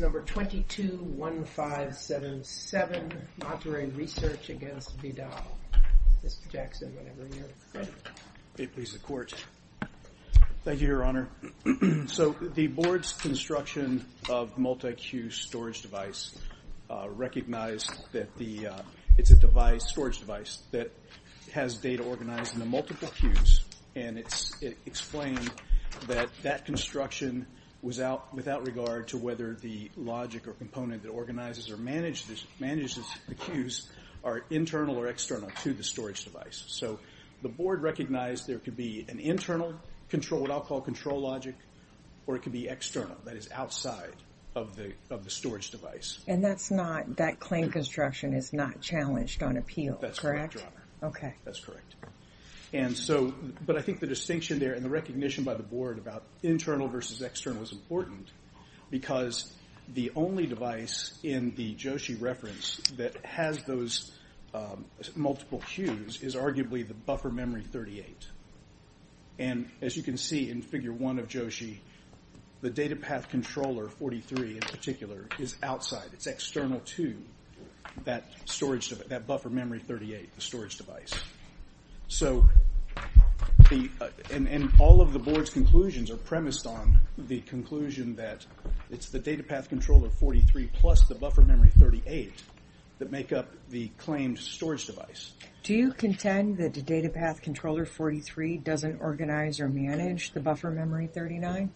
Number 221577, Monterey Research against Vidal. Mr. Jackson, whenever you're ready. May it please the Court. Thank you, Your Honor. So, the board's construction of multi-queue storage device recognized that the, it's a device, storage device, that has data organized into multiple queues, and it's explained that that construction was out regard to whether the logic or component that organizes or manages the queues are internal or external to the storage device. So, the board recognized there could be an internal control, what I'll call control logic, or it could be external, that is outside of the storage device. And that's not, that claim construction is not challenged on appeal, correct? That's correct, Your Honor. Okay. That's correct. And so, but I think the distinction there and the recognition by the board about internal versus external is important because the only device in the Joshi reference that has those multiple queues is arguably the buffer memory 38. And as you can see in figure 1 of Joshi, the data path controller, 43 in particular, is outside, it's external to that storage, that buffer memory 38, storage device. So, and all of the board's conclusions are premised on the conclusion that it's the data path controller 43 plus the buffer memory 38 that make up the claimed storage device. Do you contend that the data path controller 43 doesn't organize or manage the buffer memory 39?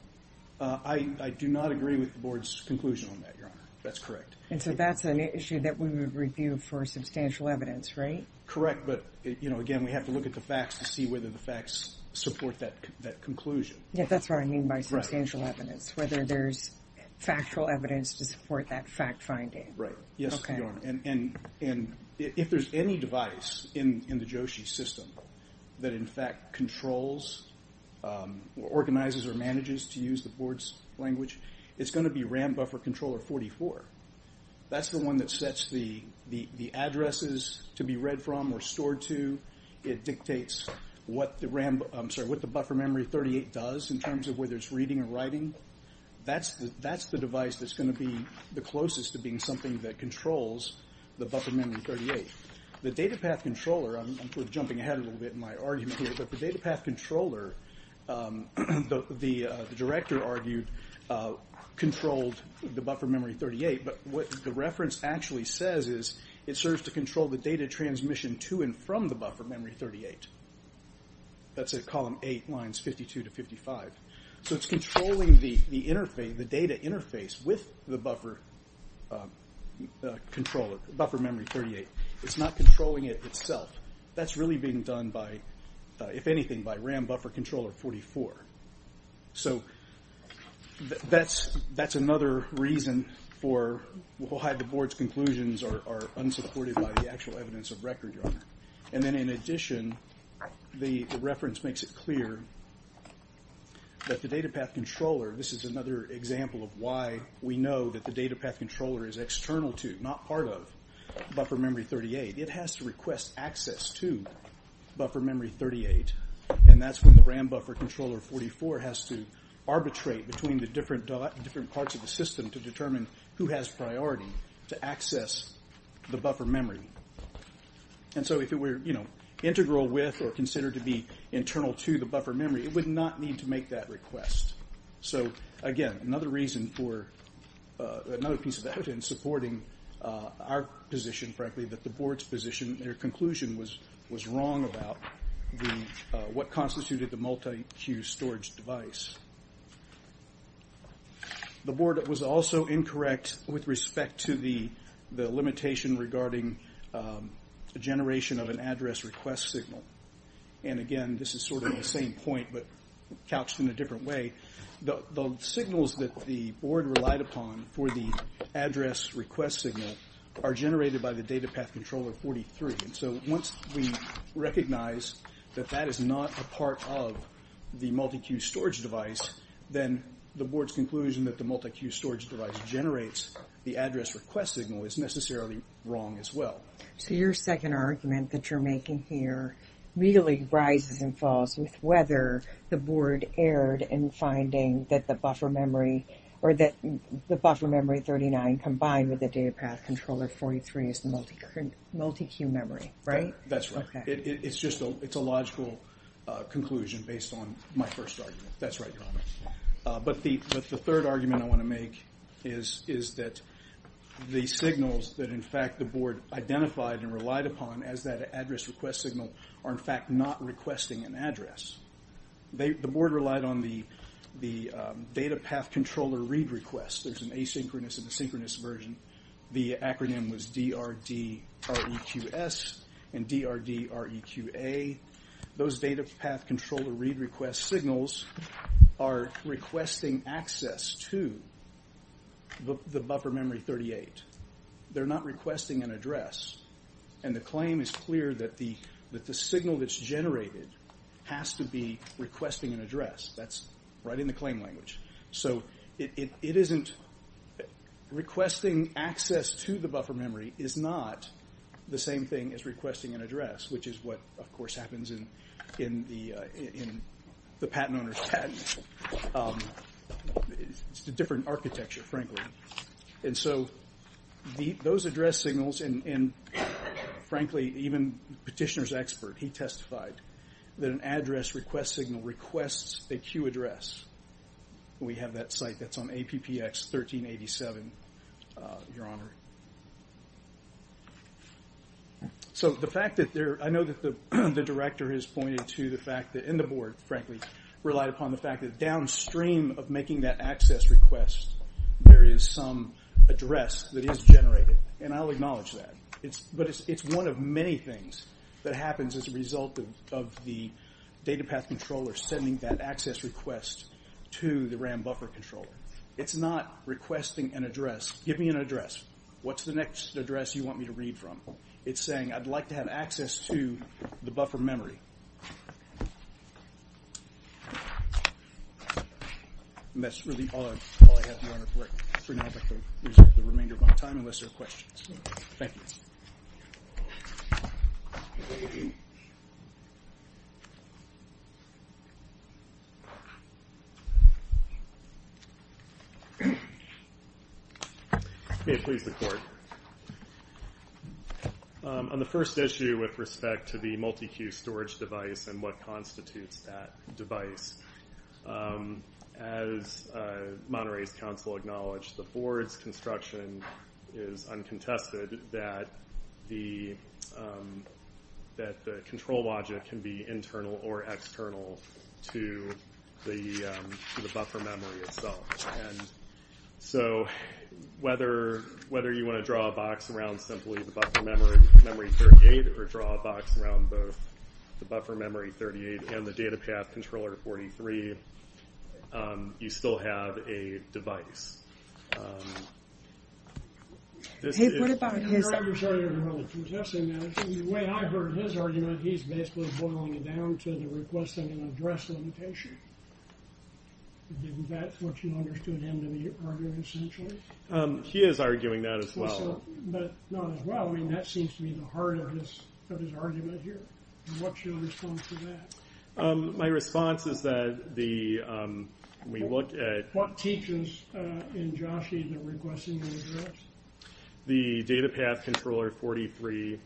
I do not agree with the board's conclusion on that, Your Honor. That's correct. And so that's an issue that we would review for substantial evidence, right? Correct, but, you know, again, we have to look at the facts to see whether the facts support that conclusion. Yeah, that's what I mean by substantial evidence, whether there's factual evidence to support that fact finding. Right. Yes, Your Honor. And if there's any device in the Joshi system that, in fact, controls or organizes or manages to use the board's language, it's going to be RAM buffer controller 44. That's the one that sets the addresses to be read from or stored to. It dictates what the RAM, I'm sorry, what the buffer memory 38 does in terms of whether it's reading or writing. That's the device that's going to be the closest to being something that controls the buffer memory 38. The data path controller, I'm sort of jumping ahead a little bit in my argument here, but the data path controller, the director argued, controlled the buffer memory 38, but what the reference actually says is it serves to control the data transmission to and from the buffer memory 38. That's at column 8, lines 52 to 55. So it's controlling the data interface with the buffer memory 38. It's not controlling it itself. That's really being done by, if anything, by RAM buffer controller 44. So that's another reason for why the board's conclusions are unsupported by the actual evidence of record, Your Honor. And then in addition, the reference makes it clear that the data path controller, this is another example of why we know that the data path controller is external to, not part of, buffer memory 38. It has to request access to buffer memory 38, and that's when the RAM buffer controller 44 has to arbitrate between the different parts of the system to determine who has priority to access the buffer memory. And so if it were integral with or considered to be internal to the buffer memory, it would not need to make that request. So again, another reason for, another piece of evidence supporting our position, frankly, that the board's position, their conclusion was wrong about what constituted the multi-queue storage device. The board was also incorrect with respect to the limitation regarding the generation of an address request signal. And again, this is sort of the same point but couched in a for the address request signal are generated by the data path controller 43. And so once we recognize that that is not a part of the multi-queue storage device, then the board's conclusion that the multi-queue storage device generates the address request signal is necessarily wrong as well. So your second argument that you're making here really rises and falls with whether the board erred in finding that the buffer memory, or that the buffer memory 39 combined with the data path controller 43 is the multi-queue memory, right? That's right. It's just a logical conclusion based on my first argument. That's right, Your Honor. But the third argument I want to make is that the signals that in fact the board identified and relied upon as that address request signal are in fact not requesting an address. The board relied on the data path controller read request. There's an asynchronous and a synchronous version. The acronym was DRDREQS and DRDREQA. Those data path controller read request signals are requesting access to the buffer memory 38. They're not requesting an address, and the claim is clear that the signal that's generated has to be requesting an address. That's right in the claim language. So requesting access to the buffer memory is not the same thing as requesting an address, which is what, of course, happens in the patent owner's patent. It's a different architecture, frankly. And so those address signals, and frankly, even the petitioner's expert, he testified that an address request signal requests a queue address. We have that site that's on APPX 1387, Your Honor. So I know that the director has pointed to the fact that in the board, frankly, relied upon the fact that downstream of making that access request, there is some address that is generated, and I'll acknowledge that. But it's one of many things that happens as a result of the data path controller sending that access request to the RAM buffer controller. It's not requesting an address. Give me an address. What's the next address you want me to read from? It's saying, I'd like to have access to the buffer memory. And that's really all I have, Your Honor, for now. I'd like to reserve the remainder of my time unless there are questions. Thank you. May it please the Court. On the first issue with respect to the multi-queue storage device and what constitutes that device, as Monterey's counsel acknowledged, the board's construction is uncontested, that the control logic can be internal or external to the buffer memory itself. And so whether you want to draw a box around simply the buffer memory 38, or draw a box around both the buffer memory 38 and the data path controller 43, you still have a device. The way I heard his argument, he's basically boiling it down to the request of an address limitation. Isn't that what you understood him to be arguing essentially? He is arguing that as well. But not as well. I mean, that seems to be the heart of his argument here. What's your response to that? My response is that we look at- What teaches in Joshi the request of an address? The data path controller 43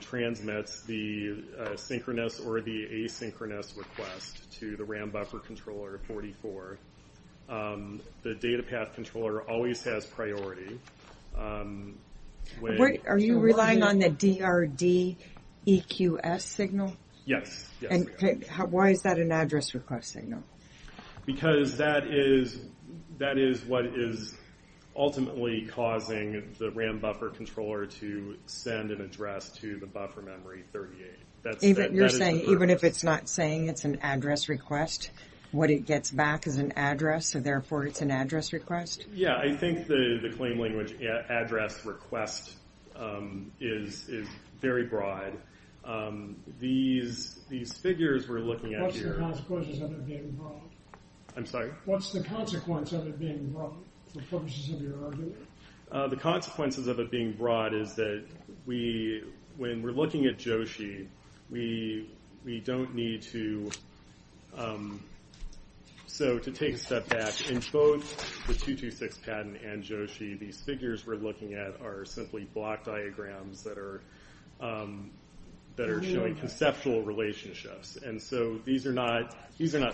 transmits the synchronous or the asynchronous request to the RAM buffer controller 44. The data path controller always has priority. Are you relying on the DRDEQS signal? Yes. Why is that an address request signal? Because that is what is ultimately causing the RAM buffer controller to send an address to the buffer memory 38. You're saying even if it's not saying it's an address request, what it gets back is an address, so therefore it's an address request? Yeah, I think the claim language address request is very broad. These figures we're looking at here- What's the consequences of it being broad? I'm sorry? What's the consequence of it being broad? The purposes of your argument? The consequences of it being broad is that when we're looking at Joshi, we don't need to take a step back. In both the 226 patent and Joshi, these figures we're looking at are simply block diagrams that are showing conceptual relationships. These are not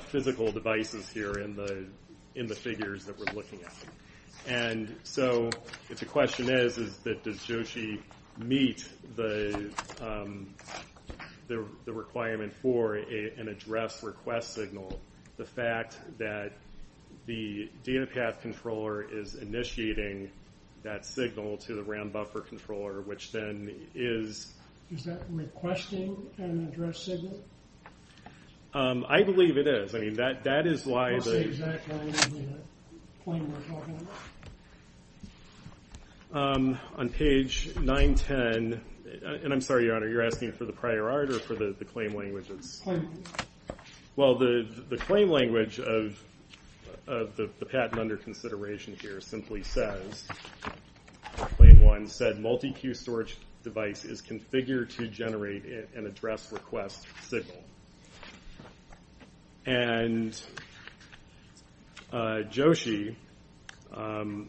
physical devices here in the figures that we're looking at. The question is, does Joshi meet the requirement for an address request signal? The fact that the data path controller is initiating that signal to the RAM buffer controller, which then is- Is that requesting an address signal? I believe it is. What's the exact language of the claim we're talking about? On page 910-and I'm sorry, Your Honor, you're asking for the prior art or for the claim languages? Claim language. Well, the claim language of the patent under consideration here simply says, Claim 1 said multi-queue storage device is configured to generate an address request signal. And Joshi on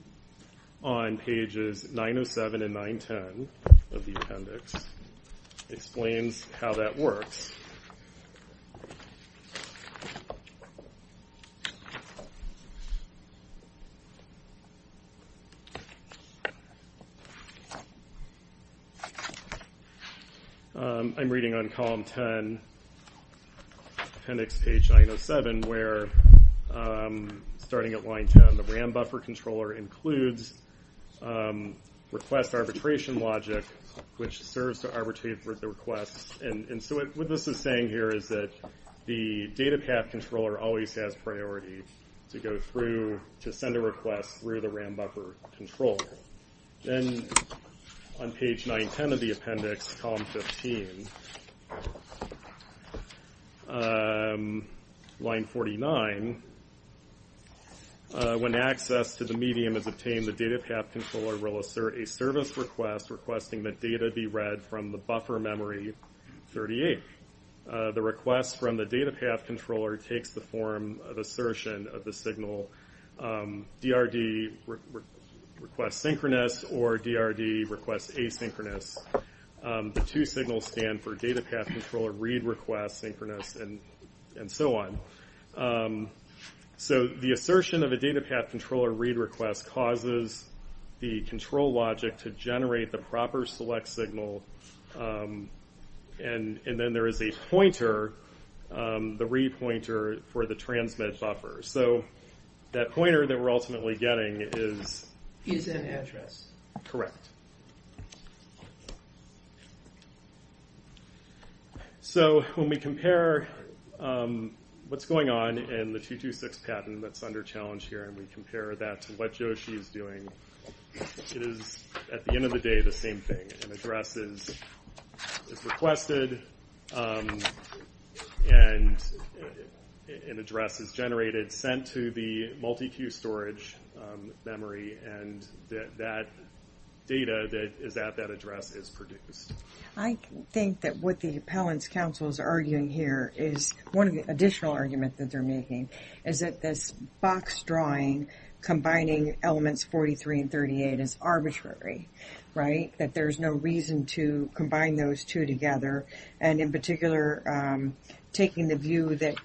pages 907 and 910 of the appendix explains how that works. I'm reading on column 10, appendix page 907, where starting at line 10, the RAM buffer controller includes request arbitration logic, which serves to arbitrate the requests. And so what this is saying here is that the data path controller always has priority to go through to send a request through the RAM buffer controller. Then on page 910 of the appendix, column 15, line 49, when access to the medium is obtained, the data path controller will assert a service request requesting that data be read from the buffer memory 38. The request from the data path controller takes the form of assertion of the signal DRD request synchronous or DRD request asynchronous. The two signals stand for data path controller read request synchronous and so on. So the assertion of a data path controller read request causes the control logic to generate the proper select signal. And then there is a pointer, the re-pointer for the transmit buffer. So that pointer that we're ultimately getting is... Is an address. Correct. So when we compare what's going on in the 226 patent that's under challenge here and we compare that to what Joshi is doing, it is, at the end of the day, the same thing. An address is requested and an address is generated, sent to the multi-queue storage memory and that data that is at that address is produced. I think that what the appellant's counsel is arguing here is... is arbitrary, right? That there's no reason to combine those two together. And in particular, taking the view that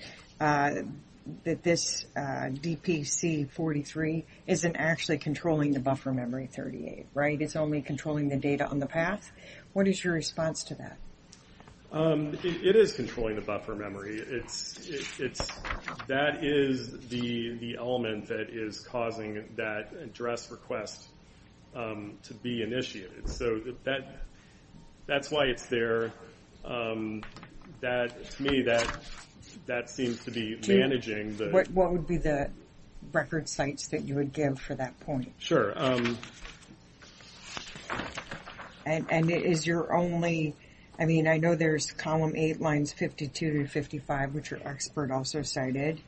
this DPC 43 isn't actually controlling the buffer memory 38, right? It's only controlling the data on the path. What is your response to that? It is controlling the buffer memory. That is the element that is causing that address request to be initiated. So that's why it's there. To me, that seems to be managing the... What would be the record sites that you would give for that point? Sure. And is your only... I mean, I know there's column 8, lines 52 to 55, which our expert also cited,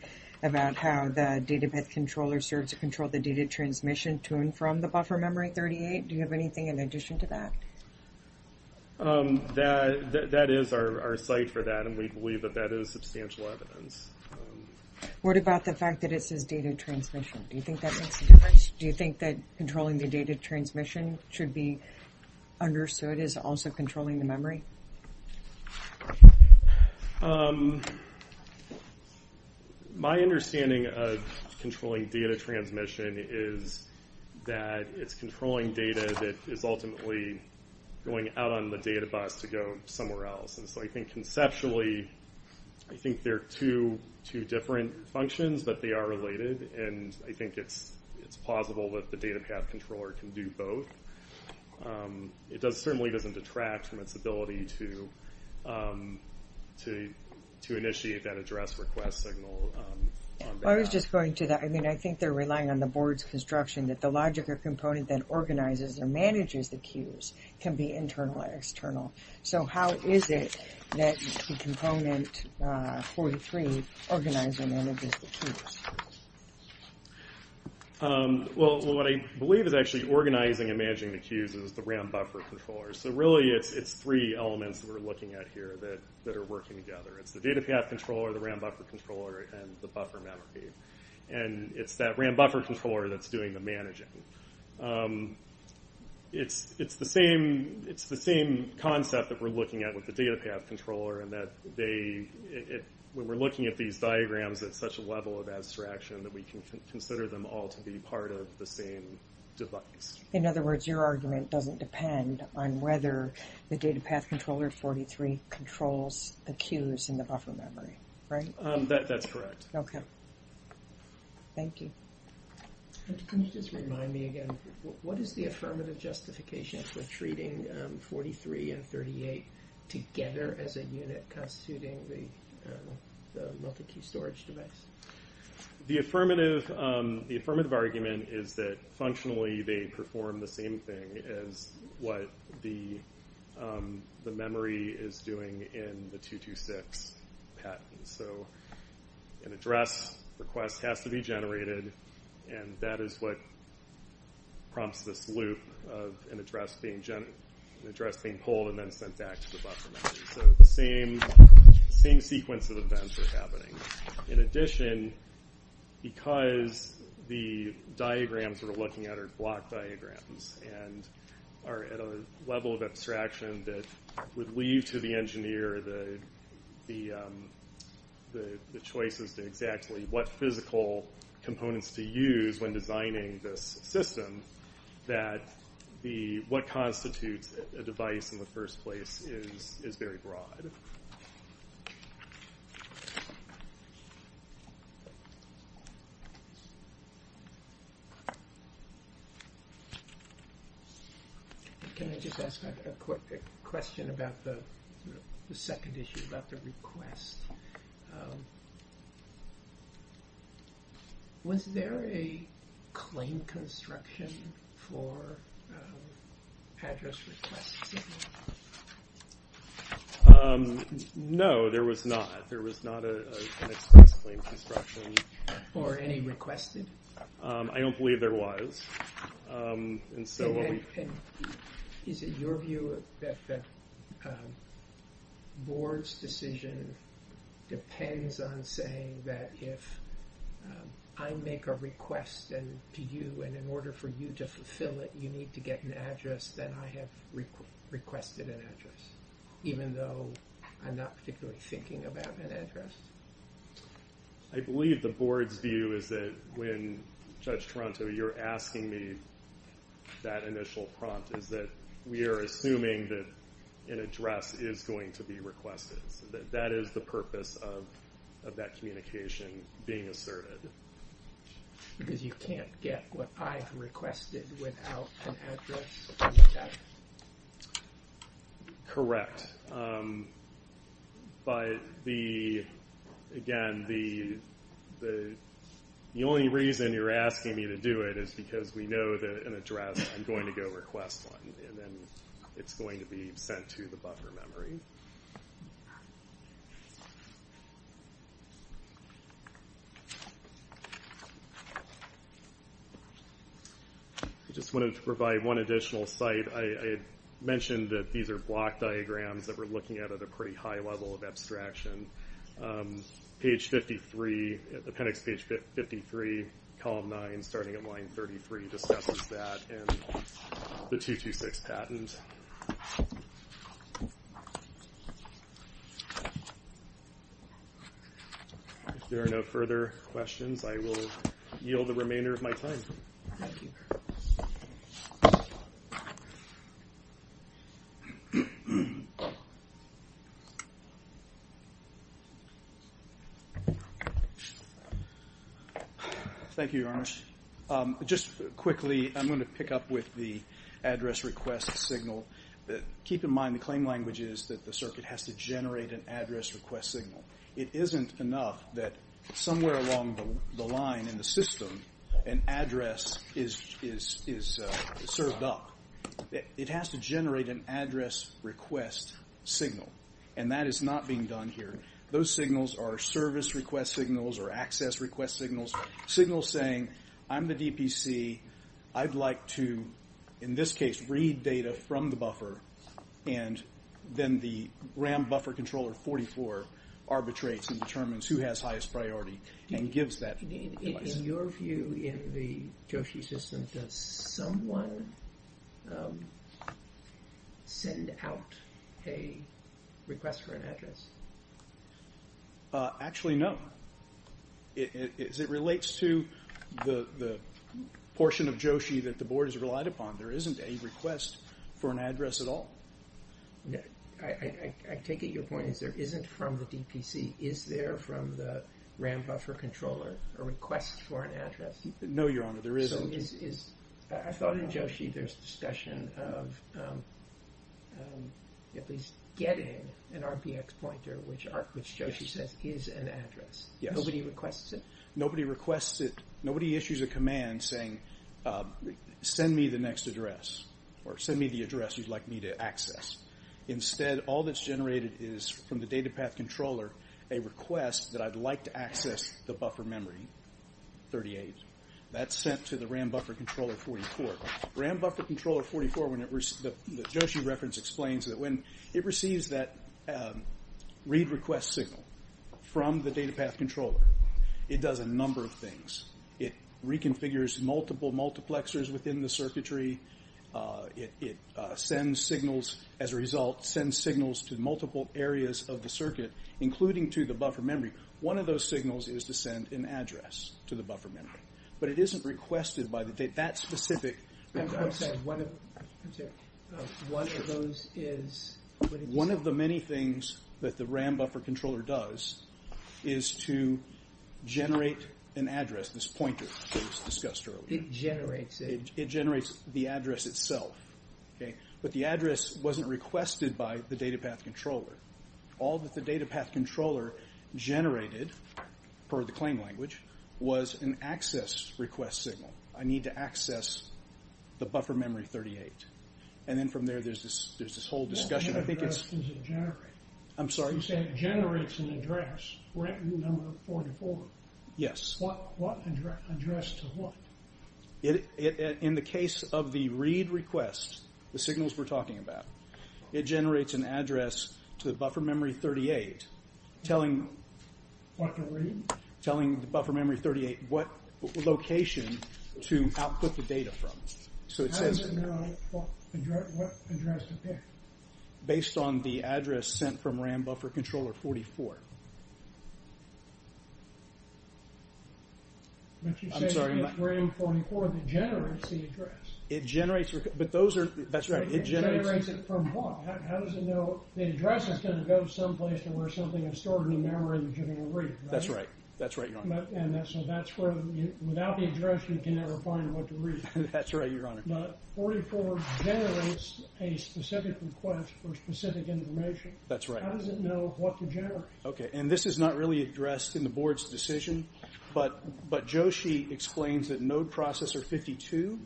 about how the datapath controller serves to control the data transmission to and from the buffer memory 38. Do you have anything in addition to that? That is our site for that and we believe that that is substantial evidence. What about the fact that it says data transmission? Do you think that makes a difference? Do you think that controlling the data transmission should be understood as also controlling the memory? My understanding of controlling data transmission is that it's controlling data that is ultimately going out on the data bus to go somewhere else. And so I think conceptually, I think they're two different functions, but they are related. And I think it's plausible that the datapath controller can do both. It certainly doesn't detract from its ability to initiate that address request signal. I was just going to that. I mean, I think they're relying on the board's construction that the logic or component that organizes or manages the queues can be internal or external. So how is it that the component 43 organizes and manages the queues? Well, what I believe is actually organizing and managing the queues is the RAM buffer controller. So really it's three elements that we're looking at here that are working together. It's the datapath controller, the RAM buffer controller, and the buffer memory. And it's that RAM buffer controller that's doing the managing. It's the same concept that we're looking at with the datapath controller, and that when we're looking at these diagrams at such a level of abstraction that we can consider them all to be part of the same device. In other words, your argument doesn't depend on whether the datapath controller 43 controls the queues in the buffer memory, right? That's correct. Okay. Thank you. Can you just remind me again, what is the affirmative justification for treating 43 and 38 together as a unit constituting the multi-queue storage device? The affirmative argument is that functionally they perform the same thing as what the memory is doing in the 226 PET. So an address request has to be generated, and that is what prompts this loop of an address being pulled and then sent back to the buffer memory. So the same sequence of events are happening. In addition, because the diagrams we're looking at are block diagrams and are at a level of abstraction that would leave to the engineer the choices to exactly what physical components to use when designing this system, that what constitutes a device in the first place is very broad. Thank you. Can I just ask a quick question about the second issue, about the request? Was there a claim construction for address requests? No, there was not. There was not an express claim construction. Or any requested? I don't believe there was. Is it your view that the board's decision depends on saying that if I make a request to you and in order for you to fulfill it you need to get an address, then I have requested an address, even though I'm not particularly thinking about an address? I believe the board's view is that when Judge Toronto, you're asking me that initial prompt, is that we are assuming that an address is going to be requested. So that is the purpose of that communication being asserted. Because you can't get what I've requested without an address? Correct. But again, the only reason you're asking me to do it is because we know that an address, I'm going to go request one, and then it's going to be sent to the buffer memory. I just wanted to provide one additional site. I mentioned that these are block diagrams that we're looking at at a pretty high level of abstraction. Page 53, appendix page 53, column 9, starting at line 33, discusses that and the 226 patent. If there are no further questions, I will yield the remainder of my time. Thank you. Thank you, Your Honors. Just quickly, I'm going to pick up with the address request signal. Keep in mind the claim language is that the circuit has to generate an address request signal. It isn't enough that somewhere along the line in the system, an address is served up. It has to generate an address request signal, and that is not being done here. Those signals are service request signals or access request signals, signals saying, I'm the DPC. I'd like to, in this case, read data from the buffer, and then the RAM buffer controller 44 arbitrates and determines who has highest priority and gives that advice. In your view, in the Joshi system, does someone send out a request for an address? Actually, no. As it relates to the portion of Joshi that the board has relied upon, there isn't a request for an address at all. I take it your point is there isn't from the DPC. Is there from the RAM buffer controller a request for an address? No, Your Honor, there isn't. I thought in Joshi there's discussion of at least getting an RPX pointer, which Joshi says is an address. Nobody requests it? Nobody requests it. Nobody issues a command saying, send me the next address or send me the address you'd like me to access. Instead, all that's generated is from the DataPath controller a request that I'd like to access the buffer memory, 38. That's sent to the RAM buffer controller 44. RAM buffer controller 44, the Joshi reference explains that when it receives that read request signal from the DataPath controller, it does a number of things. It reconfigures multiple multiplexers within the circuitry. It sends signals. As a result, it sends signals to multiple areas of the circuit, including to the buffer memory. One of those signals is to send an address to the buffer memory. But it isn't requested by that specific request. One of the many things that the RAM buffer controller does is to generate an address, this pointer that was discussed earlier. It generates it? It generates the address itself. But the address wasn't requested by the DataPath controller. All that the DataPath controller generated, per the claim language, was an access request signal. I need to access the buffer memory, 38. And then from there, there's this whole discussion. What kind of address does it generate? I'm sorry? You say it generates an address, RAM number 44. Yes. What address to what? In the case of the read request, the signals we're talking about, it generates an address to the buffer memory, 38, telling the buffer memory, 38, what location to output the data from. How does it know what address to pick? Based on the address sent from RAM buffer controller 44. I'm sorry? You say it's RAM 44 that generates the address. It generates, but those are, that's right, it generates. It generates it from what? How does it know the address is going to go someplace to where something is stored in the memory that you're going to read, right? That's right. That's right, Your Honor. So that's where, without the address, you can never find what to read. That's right, Your Honor. That's right. How does it know what to generate? Okay, and this is not really addressed in the Board's decision, but Joshi explains that Node Processor 52,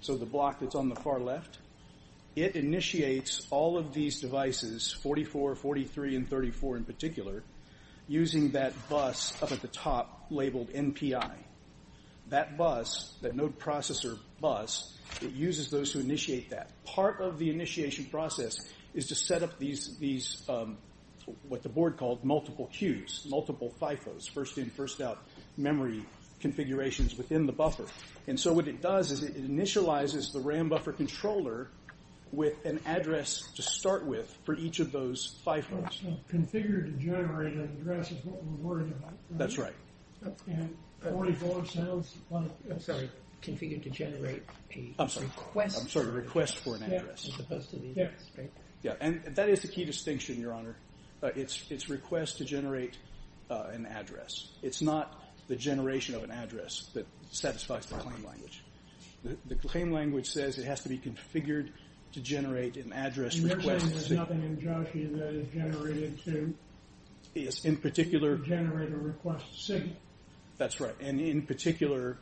so the block that's on the far left, it initiates all of these devices, 44, 43, and 34 in particular, using that bus up at the top labeled NPI. That bus, that Node Processor bus, it uses those to initiate that. Part of the initiation process is to set up these, what the Board called multiple queues, multiple FIFOs, first-in, first-out memory configurations within the buffer. And so what it does is it initializes the RAM buffer controller with an address to start with for each of those FIFOs. Configure to generate an address is what we're worried about. That's right. And 44 sounds like, I'm sorry, configure to generate a request. I'm sorry, request for an address. And that is the key distinction, Your Honor. It's request to generate an address. It's not the generation of an address that satisfies the claim language. The claim language says it has to be configured to generate an address request. You're saying there's nothing in Joshi that is generated to generate a request signal. That's right. And in particular,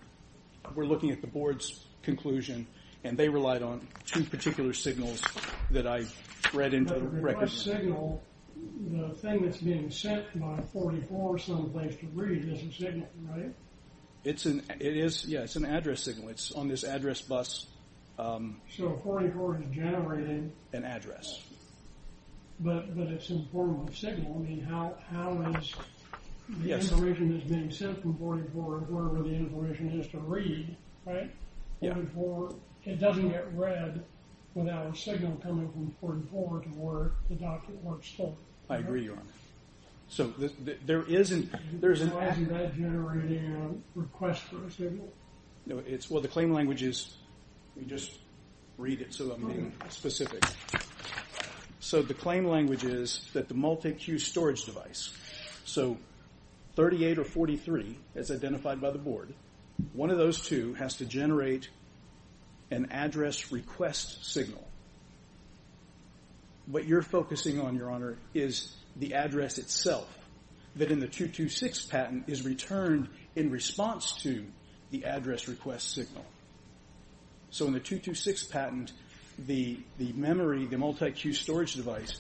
we're looking at the Board's conclusion, and they relied on two particular signals that I read into the record. The request signal, the thing that's being sent by 44 someplace to read is a signal, right? It is, yeah. It's an address signal. It's on this address bus. So 44 is generating an address. But it's in the form of a signal. I mean, how is the information that's being sent from 44 to wherever the information is to read, right? It doesn't get read without a signal coming from 44 to where the document was stolen. I agree, Your Honor. So there is an address. So how is that generating a request for a signal? Well, the claim language is, let me just read it so I'm being specific. So the claim language is that the multi-queue storage device, so 38 or 43, as identified by the Board, one of those two has to generate an address request signal. What you're focusing on, Your Honor, is the address itself, that in the 226 patent is returned in response to the address request signal. So in the 226 patent, the memory, the multi-queue storage device,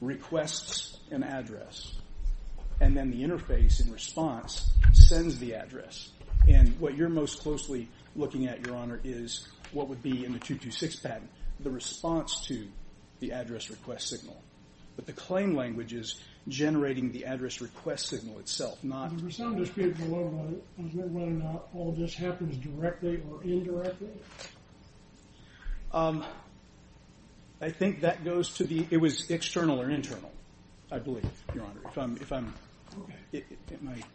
requests an address. And then the interface in response sends the address. And what you're most closely looking at, Your Honor, is what would be in the 226 patent, the response to the address request signal. But the claim language is generating the address request signal itself. There was some dispute as to whether or not all this happens directly or indirectly. I think that goes to the, it was external or internal, I believe, Your Honor. If I'm,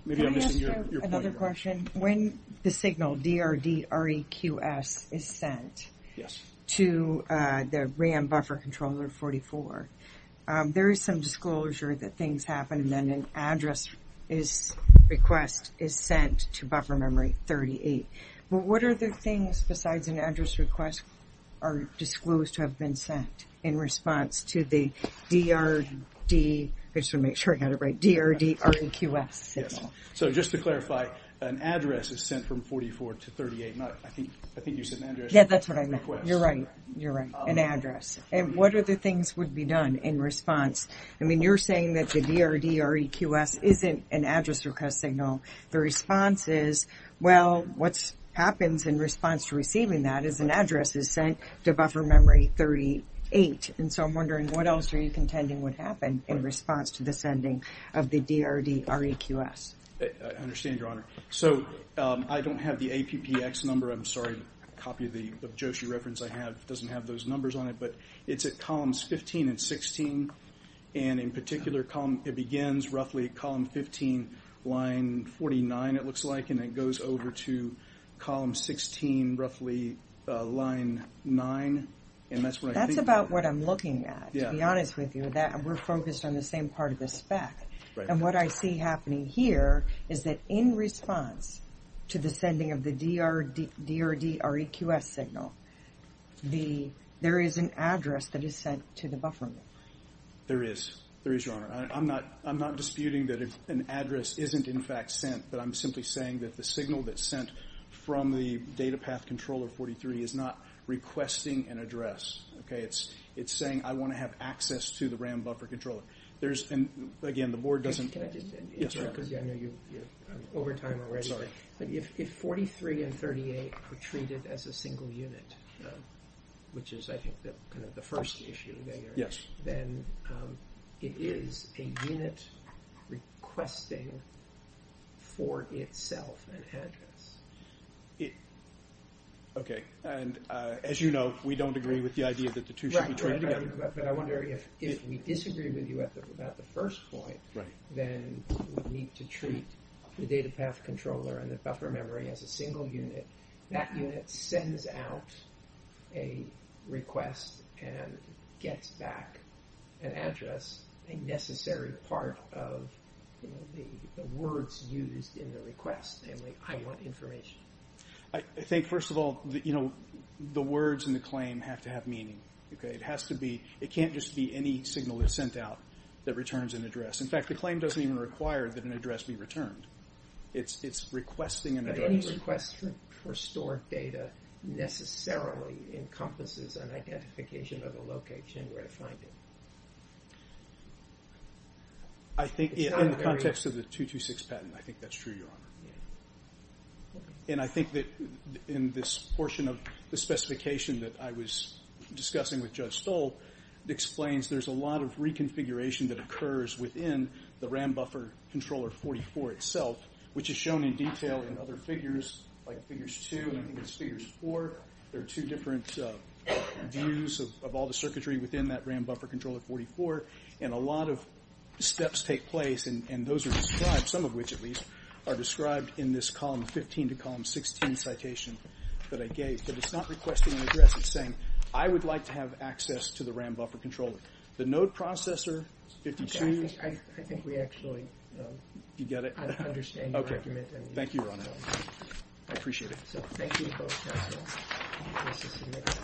maybe I'm missing your point. Can I ask you another question? When the signal, D-R-D-R-E-Q-S, is sent to the RAM buffer controller 44, there is some disclosure that things happen and then an address request is sent to buffer memory 38. But what are the things besides an address request are disclosed to have been sent in response to the D-R-D, I just want to make sure I got it right, D-R-D-R-E-Q-S signal? So just to clarify, an address is sent from 44 to 38. I think you said an address request. Yeah, that's what I meant. You're right. An address. And what other things would be done in response? I mean, you're saying that the D-R-D-R-E-Q-S isn't an address request signal. The response is, well, what happens in response to receiving that is an address is sent to buffer memory 38. And so I'm wondering what else are you contending would happen in response to the sending of the D-R-D-R-E-Q-S? I understand, Your Honor. So I don't have the APPX number. I'm sorry, a copy of the, of the JOSHI reference I have doesn't have those numbers on it. But it's at columns 15 and 16. And in particular, it begins roughly at column 15, line 49 it looks like, and it goes over to column 16, roughly line 9. That's about what I'm looking at, to be honest with you. We're focused on the same part of the spec. And what I see happening here is that in response to the sending of the D-R-D-R-E-Q-S signal, there is an address that is sent to the buffer memory. There is. There is, Your Honor. I'm not disputing that an address isn't in fact sent, but I'm simply saying that the signal that's sent from the data path controller 43 is not requesting an address, okay? It's saying I want to have access to the RAM buffer controller. There's, and again, the Board doesn't. Can I just add? Yes, Your Honor. Because I know you're over time already. Sorry. If 43 and 38 are treated as a single unit, which is I think kind of the first issue, then it is a unit requesting for itself an address. Okay. And as you know, we don't agree with the idea that the two should be treated together. But I wonder if we disagree with you at the first point, then we need to treat the data path controller and the buffer memory as a single unit. That unit sends out a request and gets back an address, a necessary part of the words used in the request, namely, I want information. I think, first of all, the words in the claim have to have meaning. It has to be. It can't just be any signal that's sent out that returns an address. In fact, the claim doesn't even require that an address be returned. It's requesting an address. Any request for stored data necessarily encompasses an identification of a location where to find it. I think in the context of the 226 patent, I think that's true, Your Honor. And I think that in this portion of the specification that I was discussing with Judge Stoll, it explains there's a lot of reconfiguration that occurs within the RAM buffer controller 44 itself, which is shown in detail in other figures, like figures 2 and I think it's figures 4. There are two different views of all the circuitry within that RAM buffer controller 44. And a lot of steps take place, and those are described, some of which, at least, are described in this column 15 to column 16 citation that I gave. But it's not requesting an address. It's saying, I would like to have access to the RAM buffer controller. The node processor, 52. I think we actually understand your argument. Thank you, Your Honor. I appreciate it. Thank you.